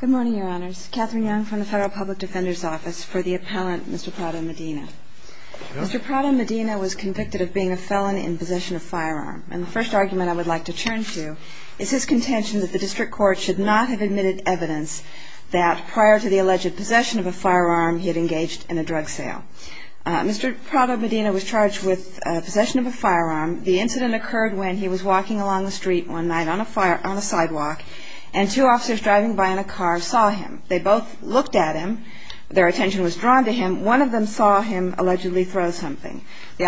Good morning, Your Honors. Katherine Young from the Federal Public Defender's Office for the Appellant, Mr. Prado-Medina. Mr. Prado-Medina was convicted of being a felon in possession of a firearm. And the first argument I would like to turn to is his contention that the district court should not have admitted evidence that prior to the alleged possession of a firearm, he had engaged in a drug sale. Mr. Prado-Medina was charged with possession of a firearm. The incident occurred when he was walking along the street one night on a sidewalk and two officers driving by in a car saw him. They both looked at him. Their attention was drawn to him. One of them saw him allegedly throw something. The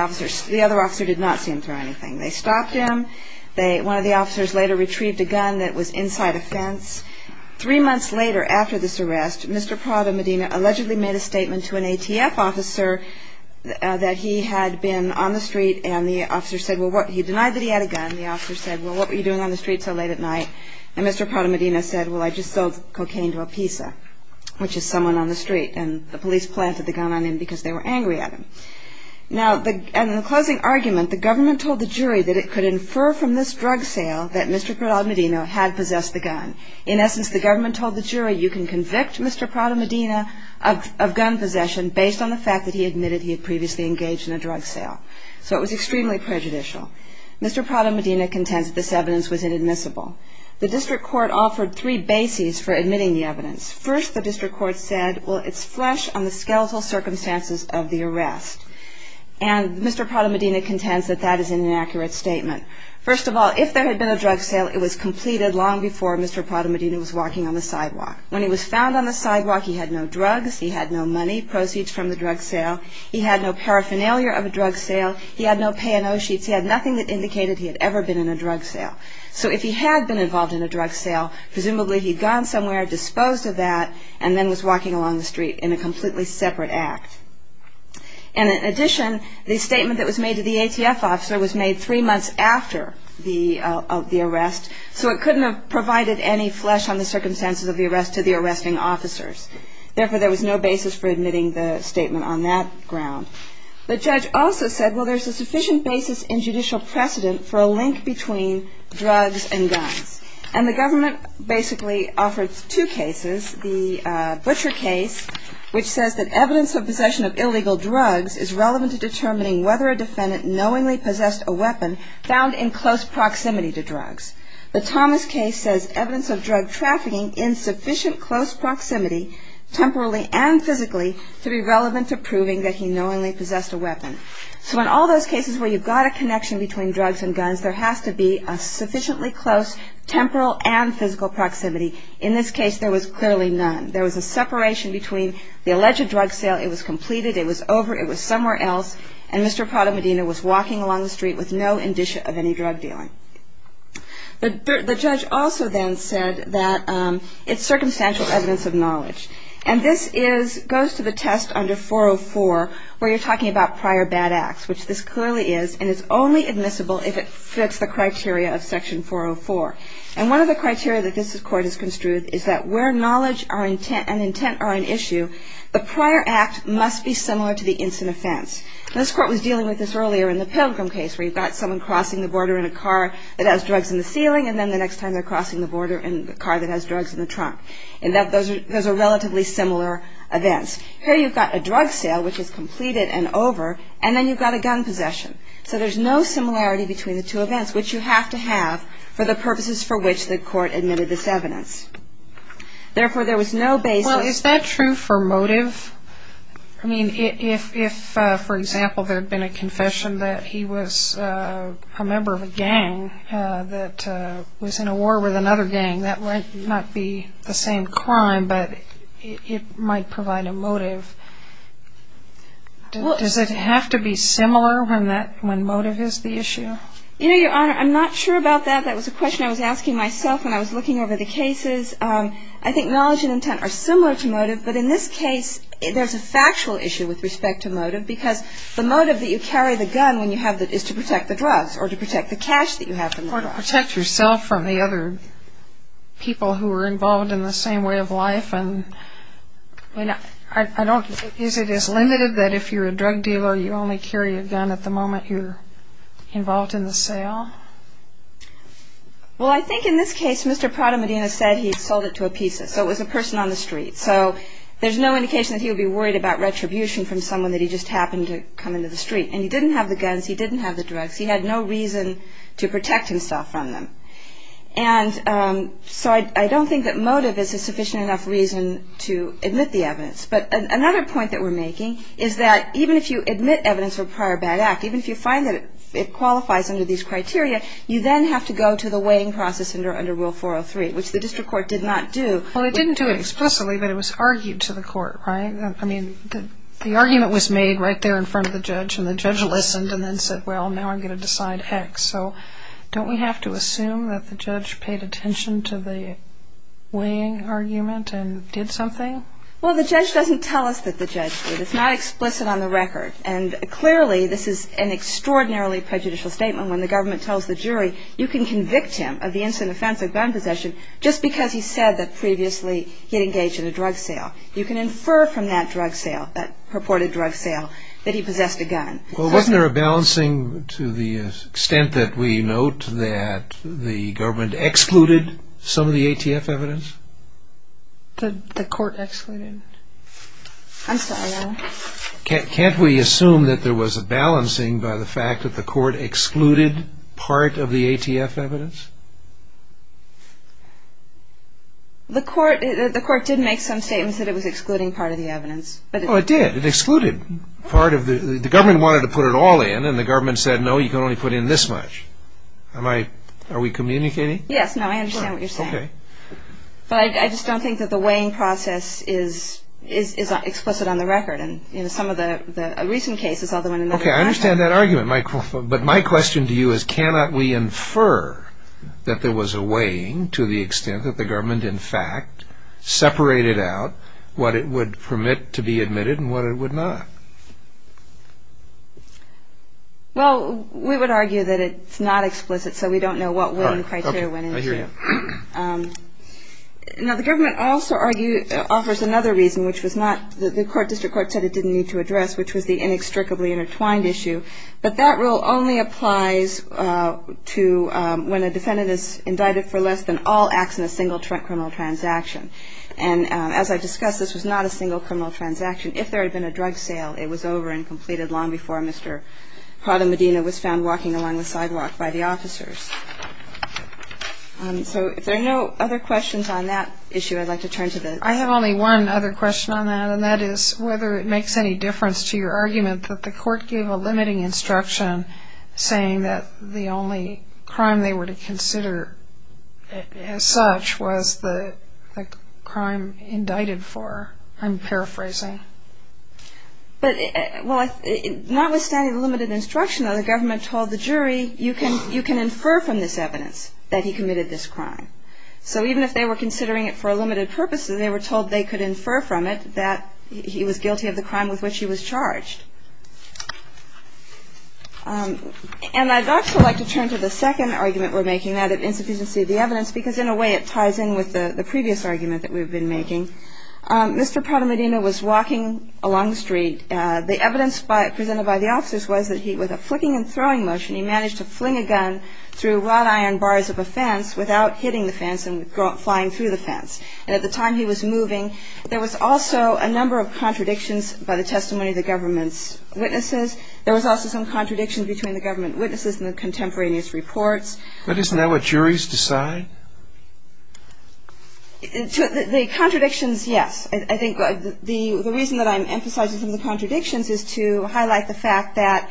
other officer did not see him throw anything. They stopped him. One of the officers later retrieved a gun that was inside a fence. Three months later after this arrest, Mr. Prado-Medina allegedly made a statement to an ATF officer that he had been on the street and the officer said, well, he denied that he had a gun. And the officer said, well, what were you doing on the street so late at night? And Mr. Prado-Medina said, well, I just sold cocaine to a PISA, which is someone on the street. And the police planted the gun on him because they were angry at him. Now, in the closing argument, the government told the jury that it could infer from this drug sale that Mr. Prado-Medina had possessed the gun. In essence, the government told the jury you can convict Mr. Prado-Medina of gun possession based on the fact that he admitted he had previously engaged in a drug sale. So it was extremely prejudicial. Mr. Prado-Medina contends that this evidence was inadmissible. The district court offered three bases for admitting the evidence. First, the district court said, well, it's flesh on the skeletal circumstances of the arrest. And Mr. Prado-Medina contends that that is an inaccurate statement. First of all, if there had been a drug sale, it was completed long before Mr. Prado-Medina was walking on the sidewalk. When he was found on the sidewalk, he had no drugs, he had no money, proceeds from the drug sale, he had no paraphernalia of a drug sale, he had no pay and owe sheets, he had nothing that indicated he had ever been in a drug sale. So if he had been involved in a drug sale, presumably he'd gone somewhere, disposed of that, and then was walking along the street in a completely separate act. And in addition, the statement that was made to the ATF officer was made three months after the arrest, so it couldn't have provided any flesh on the circumstances of the arrest to the arresting officers. Therefore, there was no basis for admitting the statement on that ground. The judge also said, well, there's a sufficient basis in judicial precedent for a link between drugs and guns. And the government basically offered two cases, the Butcher case, which says that evidence of possession of illegal drugs is relevant to determining whether a defendant knowingly possessed a weapon found in close proximity to drugs. The Thomas case says evidence of drug trafficking in sufficient close proximity, temporally and physically, to be relevant to proving that he knowingly possessed a weapon. So in all those cases where you've got a connection between drugs and guns, there has to be a sufficiently close temporal and physical proximity. In this case, there was clearly none. There was a separation between the alleged drug sale, it was completed, it was over, it was somewhere else, and Mr. Prada Medina was walking along the street with no indicia of any drug dealing. The judge also then said that it's circumstantial evidence of knowledge. And this goes to the test under 404 where you're talking about prior bad acts, which this clearly is, and it's only admissible if it fits the criteria of Section 404. And one of the criteria that this Court has construed is that where knowledge and intent are an issue, the prior act must be similar to the instant offense. This Court was dealing with this earlier in the Pilgrim case where you've got someone crossing the border in a car that has drugs in the ceiling, and then the next time they're crossing the border in a car that has drugs in the trunk. And those are relatively similar events. Here you've got a drug sale, which is completed and over, and then you've got a gun possession. So there's no similarity between the two events, which you have to have for the purposes for which the Court admitted this evidence. Therefore, there was no basis. Well, is that true for motive? I mean, if, for example, there had been a confession that he was a member of a gang that was in a war with another gang, that might not be the same crime, but it might provide a motive. Does it have to be similar when motive is the issue? You know, Your Honor, I'm not sure about that. That was a question I was asking myself when I was looking over the cases. I think knowledge and intent are similar to motive, but in this case there's a factual issue with respect to motive because the motive that you carry the gun when you have it is to protect the drugs or to protect the cash that you have from the drugs. Or to protect yourself from the other people who are involved in the same way of life. Is it as limited that if you're a drug dealer, you only carry a gun at the moment you're involved in the sale? Well, I think in this case Mr. Prada-Medina said he sold it to a pizza, so it was a person on the street. So there's no indication that he would be worried about retribution from someone that he just happened to come into the street. And he didn't have the guns. He didn't have the drugs. He had no reason to protect himself from them. And so I don't think that motive is a sufficient enough reason to admit the evidence. But another point that we're making is that even if you admit evidence of a prior bad act, even if you find that it qualifies under these criteria, you then have to go to the weighing process under Rule 403, which the district court did not do. Well, it didn't do it explicitly, but it was argued to the court, right? I mean, the argument was made right there in front of the judge, and the judge listened and then said, well, now I'm going to decide X. So don't we have to assume that the judge paid attention to the weighing argument and did something? Well, the judge doesn't tell us that the judge did. It's not explicit on the record. And clearly, this is an extraordinarily prejudicial statement. When the government tells the jury, you can convict him of the instant offense of gun possession just because he said that previously he had engaged in a drug sale. You can infer from that drug sale, that purported drug sale, that he possessed a gun. Well, wasn't there a balancing to the extent that we note that the government excluded some of the ATF evidence? The court excluded. I'm sorry, Alan. Can't we assume that there was a balancing by the fact that the court excluded part of the ATF evidence? The court did make some statements that it was excluding part of the evidence. Oh, it did. It excluded part of the – the government wanted to put it all in, and the government said, no, you can only put in this much. Am I – are we communicating? Yes. No, I understand what you're saying. Sure. Okay. But I just don't think that the weighing process is explicit on the record. And, you know, some of the recent cases, although in another context – Okay, I understand that argument, but my question to you is, cannot we infer that there was a weighing to the extent that the government, in fact, separated out what it would permit to be admitted and what it would not? Well, we would argue that it's not explicit, so we don't know what weighing criteria went into it. I hear you. Now, the government also offers another reason, which was not – the district court said it didn't need to address, which was the inextricably intertwined issue. But that rule only applies to when a defendant is indicted for less than all acts in a single criminal transaction. And as I discussed, this was not a single criminal transaction. If there had been a drug sale, it was over and completed long before Mr. Prada Medina was found walking along the sidewalk by the officers. So if there are no other questions on that issue, I'd like to turn to the – I have only one other question on that, and that is whether it makes any difference to your argument that the court gave a limiting instruction, saying that the only crime they were to consider as such was the crime indicted for. I'm paraphrasing. But, well, notwithstanding the limited instruction, the government told the jury, you can infer from this evidence that he committed this crime. So even if they were considering it for a limited purpose, they were told they could infer from it that he was guilty of the crime with which he was charged. And I'd also like to turn to the second argument we're making, that of insufficiency of the evidence, because in a way it ties in with the previous argument that we've been making. Mr. Prada Medina was walking along the street. The evidence presented by the officers was that he, with a flicking and throwing motion, he managed to fling a gun through wrought iron bars of a fence without hitting the fence and flying through the fence. And at the time he was moving, there was also a number of contradictions by the testimony of the government's witnesses. There was also some contradiction between the government witnesses and the contemporaneous reports. But isn't that what juries decide? The contradictions, yes. I think the reason that I'm emphasizing some of the contradictions is to highlight the fact that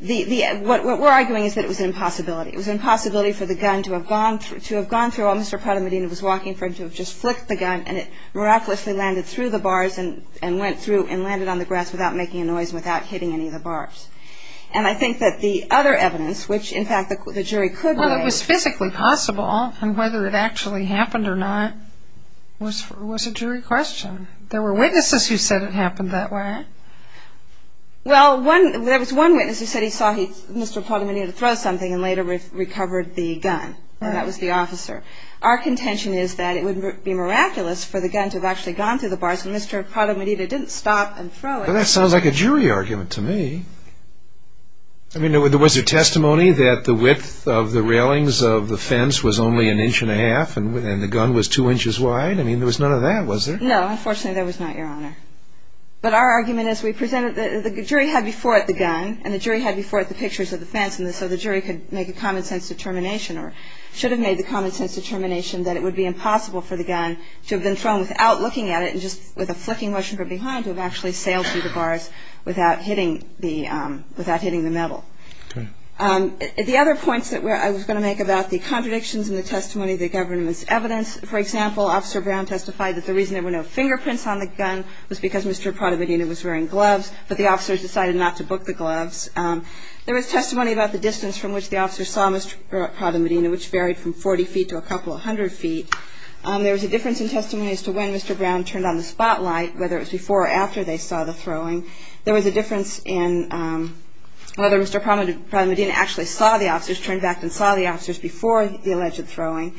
what we're arguing is that it was an impossibility. It was an impossibility for the gun to have gone through while Mr. Prada Medina was walking, for him to have just flicked the gun and it miraculously landed through the bars and went through and landed on the grass without making a noise, without hitting any of the bars. And I think that the other evidence, which in fact the jury could weigh... Well, and whether it actually happened or not, was a jury question. There were witnesses who said it happened that way. Well, there was one witness who said he saw Mr. Prada Medina throw something and later recovered the gun, and that was the officer. Our contention is that it would be miraculous for the gun to have actually gone through the bars when Mr. Prada Medina didn't stop and throw it. Well, that sounds like a jury argument to me. I mean, there was a testimony that the width of the railings of the fence was only an inch and a half, and the gun was two inches wide. I mean, there was none of that, was there? No, unfortunately there was not, Your Honor. But our argument is we presented... The jury had before it the gun, and the jury had before it the pictures of the fence, so the jury could make a common-sense determination or should have made the common-sense determination that it would be impossible for the gun to have been thrown without looking at it and just with a flicking motion from behind to have actually sailed through the bars without hitting the metal. The other points that I was going to make about the contradictions in the testimony, the government's evidence. For example, Officer Brown testified that the reason there were no fingerprints on the gun was because Mr. Prada Medina was wearing gloves, but the officers decided not to book the gloves. There was testimony about the distance from which the officers saw Mr. Prada Medina, which varied from 40 feet to a couple of hundred feet. There was a difference in testimony as to when Mr. Brown turned on the spotlight, whether it was before or after they saw the throwing. There was a difference in whether Mr. Prada Medina actually saw the officers, turned back and saw the officers before the alleged throwing.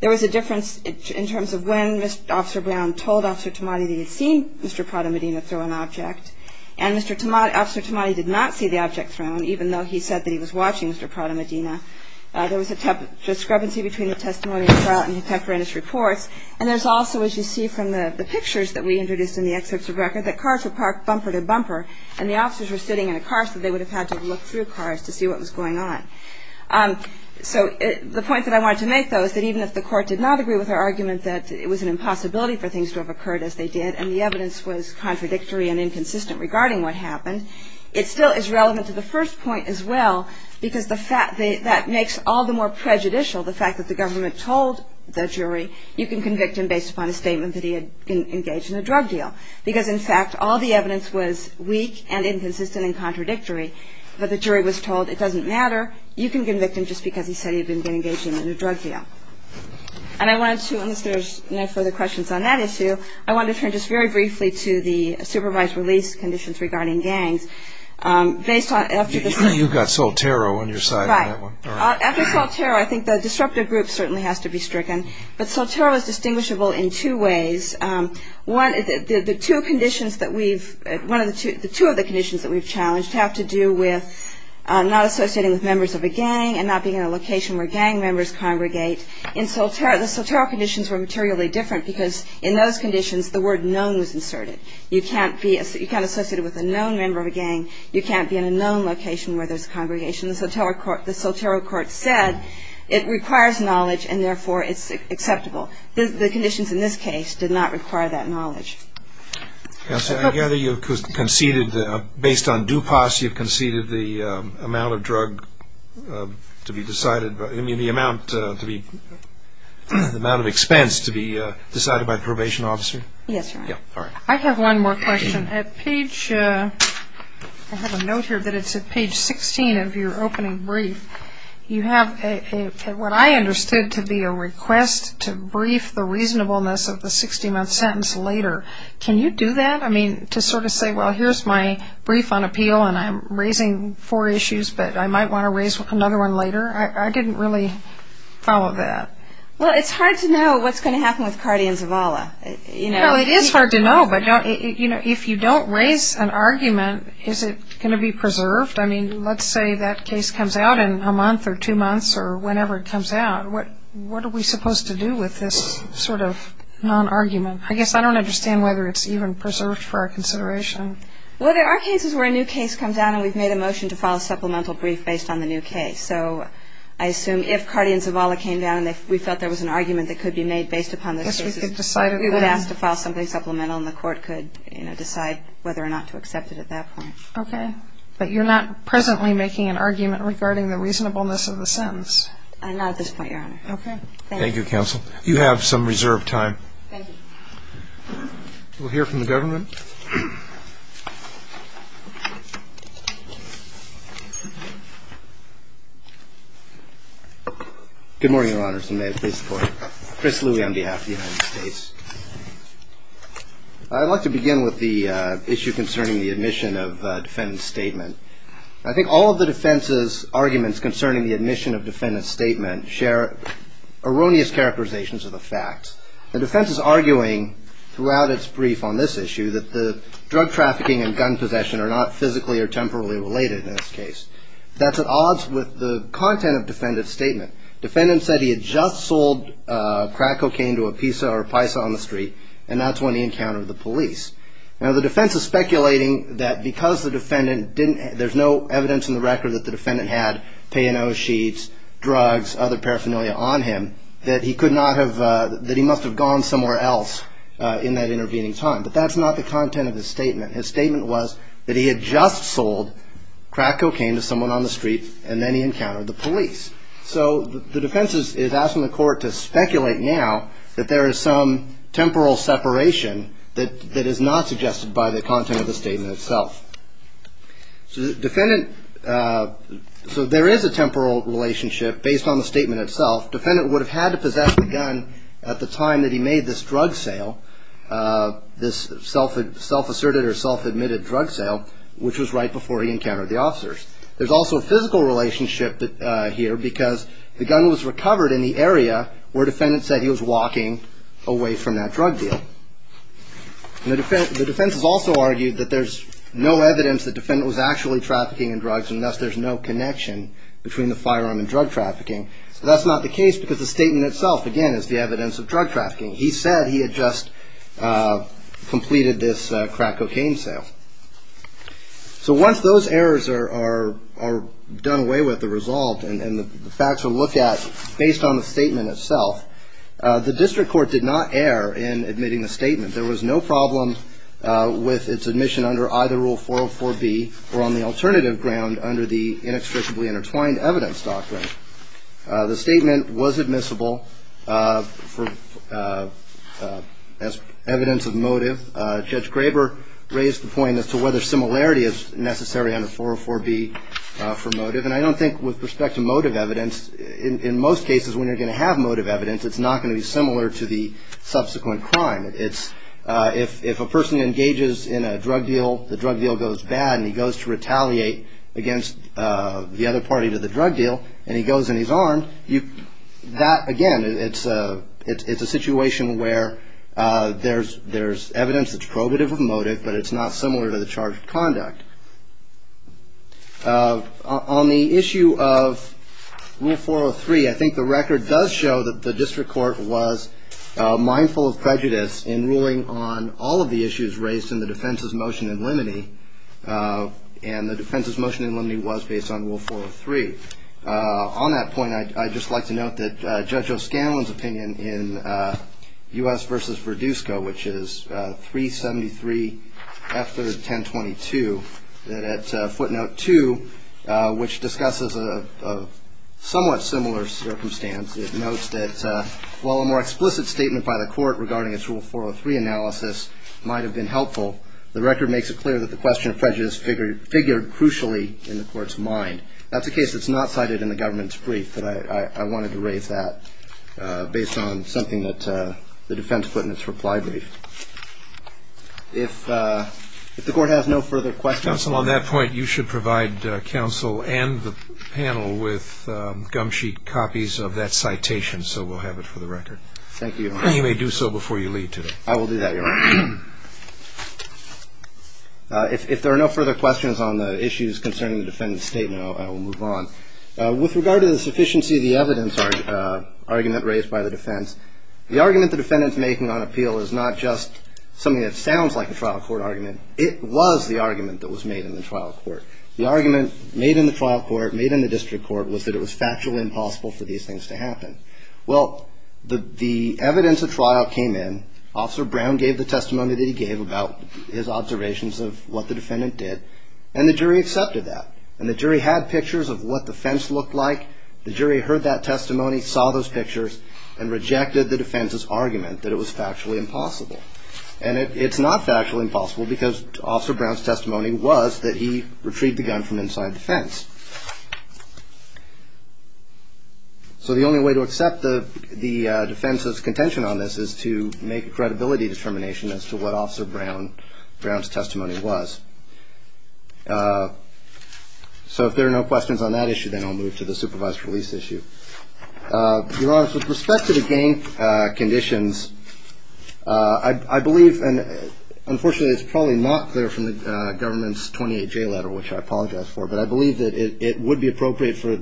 There was a difference in terms of when Mr. Brown told Officer Tamati that he had seen Mr. Prada Medina throw an object, and Officer Tamati did not see the object thrown, even though he said that he was watching Mr. Prada Medina. There was a discrepancy between the testimony and the effort in his reports, and there's also, as you see from the pictures that we introduced in the excerpts of record, that cars were parked bumper to bumper, and the officers were sitting in a car so they would have had to look through cars to see what was going on. So the point that I wanted to make, though, is that even if the Court did not agree with our argument that it was an impossibility for things to have occurred as they did and the evidence was contradictory and inconsistent regarding what happened, it still is relevant to the first point as well because that makes all the more prejudicial the fact that the government told the jury you can convict him based upon a statement that he had engaged in a drug deal, because, in fact, all the evidence was weak and inconsistent and contradictory. But the jury was told it doesn't matter, you can convict him just because he said he had been engaged in a drug deal. And I wanted to, unless there's no further questions on that issue, I wanted to turn just very briefly to the supervised release conditions regarding gangs. You've got Soltero on your side on that one. After Soltero, I think the disruptive group certainly has to be stricken, but Soltero is distinguishable in two ways. The two of the conditions that we've challenged have to do with not associating with members of a gang and not being in a location where gang members congregate. In Soltero, the Soltero conditions were materially different because in those conditions the word known was inserted. You can't be associated with a known member of a gang, you can't be in a known location where there's a congregation. The Soltero court said it requires knowledge and therefore it's acceptable. The conditions in this case did not require that knowledge. Counsel, I gather you conceded, based on DUPAS, you conceded the amount of drug to be decided, I mean the amount of expense to be decided by a probation officer? Yes, Your Honor. I have one more question. I have a note here that it's at page 16 of your opening brief. You have what I understood to be a request to brief the reasonableness of the 60-month sentence later. Can you do that? I mean, to sort of say, well, here's my brief on appeal and I'm raising four issues, but I might want to raise another one later? I didn't really follow that. Well, it's hard to know what's going to happen with Cardi and Zavala. Well, it is hard to know, but if you don't raise an argument, is it going to be preserved? I mean, let's say that case comes out in a month or two months or whenever it comes out. What are we supposed to do with this sort of non-argument? I guess I don't understand whether it's even preserved for our consideration. Well, there are cases where a new case comes out and we've made a motion to file a supplemental brief based on the new case. So I assume if Cardi and Zavala came down and we felt there was an argument that could be made based upon those cases, we would ask to file something supplemental and the court could decide whether or not to accept it at that point. Okay. But you're not presently making an argument regarding the reasonableness of the sentence? Not at this point, Your Honor. Okay. Thank you. Thank you, counsel. You have some reserved time. Thank you. We'll hear from the government. Good morning, Your Honors, and may it please the Court. Chris Louie on behalf of the United States. I'd like to begin with the issue concerning the admission of defendant's statement. I think all of the defense's arguments concerning the admission of defendant's statement share erroneous characterizations of the facts. The defense is arguing throughout its brief on this issue that the drug trafficking and gun possession are not physically or temporally related in this case. That's at odds with the content of defendant's statement. Defendant said he had just sold crack cocaine to a pizza or a paisa on the street and that's when he encountered the police. Now, the defense is speculating that because the defendant didn't, there's no evidence in the record that the defendant had P&O sheets, drugs, other paraphernalia on him, that he could not have, that he must have gone somewhere else in that intervening time. But that's not the content of his statement. His statement was that he had just sold crack cocaine to someone on the street and then he encountered the police. So the defense is asking the court to speculate now that there is some temporal separation that is not suggested by the content of the statement itself. So there is a temporal relationship based on the statement itself. Defendant would have had to possess the gun at the time that he made this drug sale, this self-asserted or self-admitted drug sale, which was right before he encountered the officers. There's also a physical relationship here because the gun was recovered in the area where defendant said he was walking away from that drug deal. The defense has also argued that there's no evidence that the defendant was actually trafficking in drugs and thus there's no connection between the firearm and drug trafficking. So that's not the case because the statement itself, again, is the evidence of drug trafficking. He said he had just completed this crack cocaine sale. So once those errors are done away with, the result, and the facts are looked at based on the statement itself, the district court did not err in admitting the statement. There was no problem with its admission under either Rule 404B or on the alternative ground under the inextricably intertwined evidence doctrine. The statement was admissible as evidence of motive. Judge Graber raised the point as to whether similarity is necessary under 404B for motive. And I don't think with respect to motive evidence, in most cases when you're going to have motive evidence, it's not going to be similar to the subsequent crime. If a person engages in a drug deal, the drug deal goes bad and he goes to retaliate against the other party to the drug deal and he goes in his arm, that, again, it's a situation where there's evidence that's probative of motive, but it's not similar to the charge of conduct. On the issue of Rule 403, I think the record does show that the district court was mindful of prejudice in ruling on all of the issues raised in the defense's motion in limine. And the defense's motion in limine was based on Rule 403. On that point, I'd just like to note that Judge O'Scanlan's opinion in U.S. v. Verdusco, which is 373 F. 3rd 1022, that at footnote 2, which discusses a somewhat similar circumstance, it notes that while a more explicit statement by the court regarding its Rule 403 analysis might have been helpful, the record makes it clear that the question of prejudice figured crucially in the court's mind. That's a case that's not cited in the government's brief, but I wanted to raise that based on something that the defense put in its reply brief. If the court has no further questions. Counsel, on that point, you should provide counsel and the panel with gum sheet copies of that citation, so we'll have it for the record. Thank you. You may do so before you leave today. I will do that, Your Honor. If there are no further questions on the issues concerning the defendant's statement, I will move on. With regard to the sufficiency of the evidence argument raised by the defense, the argument the defendant's making on appeal is not just something that sounds like a trial court argument. It was the argument that was made in the trial court. The argument made in the trial court, made in the district court, was that it was factually impossible for these things to happen. Well, the evidence of trial came in. Officer Brown gave the testimony that he gave about his observations of what the defendant did, and the jury accepted that. And the jury had pictures of what the fence looked like. The jury heard that testimony, saw those pictures, and rejected the defense's argument that it was factually impossible. And it's not factually impossible, because Officer Brown's testimony was that he retrieved the gun from inside the fence. So the only way to accept the defense's contention on this is to make a credibility determination as to what Officer Brown's testimony was. So if there are no questions on that issue, then I'll move to the supervised release issue. Your Honor, with respect to the gang conditions, I believe, and unfortunately it's probably not clear from the government's 28-J letter, which I apologize for, but I believe that it would be appropriate for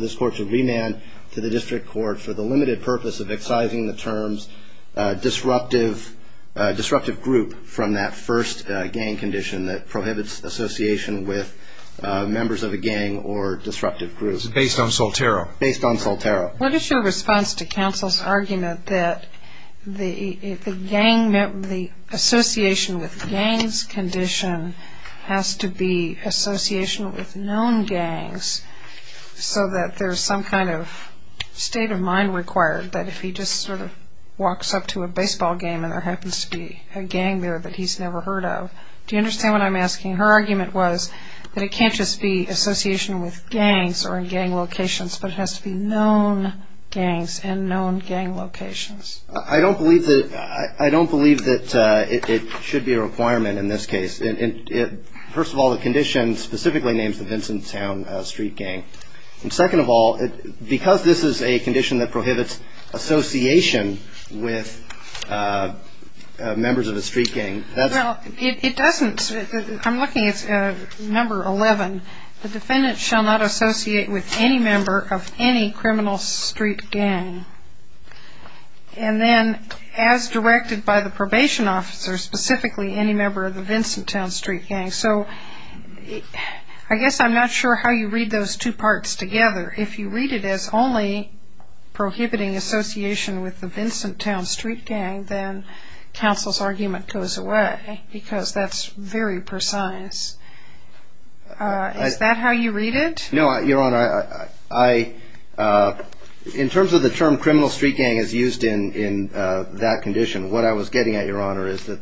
this Court to remand to the district court for the limited purpose of excising the terms disruptive group from that first gang condition that prohibits association with members of a gang or disruptive group. Based on Soltero. Based on Soltero. What is your response to counsel's argument that the association with gangs condition has to be association with known gangs so that there's some kind of state of mind required that if he just sort of walks up to a baseball game and there happens to be a gang there that he's never heard of. Do you understand what I'm asking? Her argument was that it can't just be association with gangs or gang locations, but it has to be known gangs and known gang locations. I don't believe that it should be a requirement in this case. First of all, the condition specifically names the Vincent Town street gang. And second of all, because this is a condition that prohibits association with members of a street gang. Well, it doesn't. I'm looking at number 11. The defendant shall not associate with any member of any criminal street gang. And then as directed by the probation officer, specifically any member of the Vincent Town street gang. So I guess I'm not sure how you read those two parts together. If you read it as only prohibiting association with the Vincent Town street gang, then counsel's argument goes away because that's very precise. Is that how you read it? No, Your Honor. In terms of the term criminal street gang as used in that condition, what I was getting at, Your Honor, is that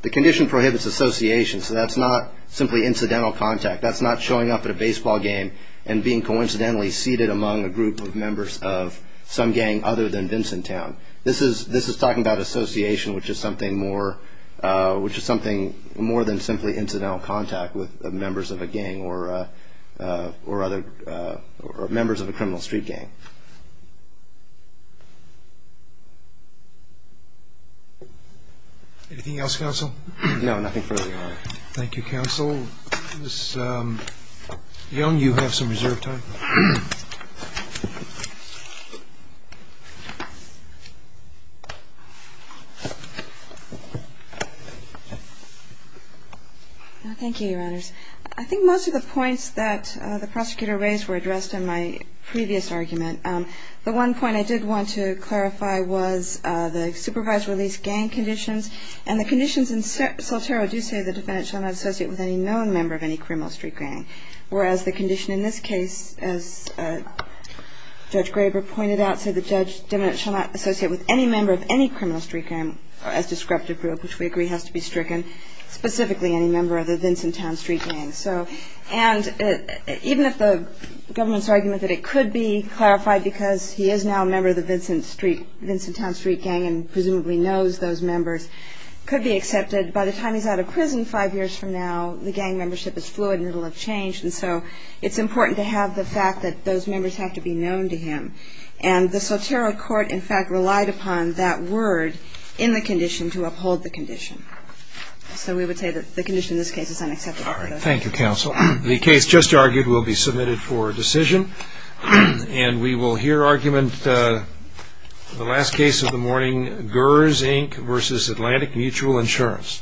the condition prohibits association. So that's not simply incidental contact. That's not showing up at a baseball game and being coincidentally seated among a group of members of some gang other than Vincent Town. This is talking about association, which is something more than simply incidental contact with members of a gang or members of a criminal street gang. Anything else, counsel? No, nothing further, Your Honor. Thank you, counsel. Ms. Young, you have some reserved time. Thank you, Your Honors. I think most of the points that the prosecutor raised were addressed in my previous argument. The one point I did want to clarify was the supervised release gang conditions, and the conditions in Soltero do say the defendant shall not associate with any known member of any criminal street gang, whereas the condition in this case, as Judge Graber pointed out, said the judge shall not associate with any member of any criminal street gang as descriptive group, which we agree has to be stricken, specifically any member of the Vincent Town street gang. And even if the government's argument that it could be clarified because he is now a member of the Vincent Town street gang and presumably knows those members could be accepted, by the time he's out of prison five years from now, the gang membership is fluid and it will have changed, and so it's important to have the fact that those members have to be known to him. And the Soltero court, in fact, relied upon that word in the condition to uphold the condition. So we would say that the condition in this case is unacceptable. All right. Thank you, counsel. The case just argued will be submitted for decision, and we will hear argument in the last case of the morning, GERS, Inc., versus Atlantic Mutual Insurance.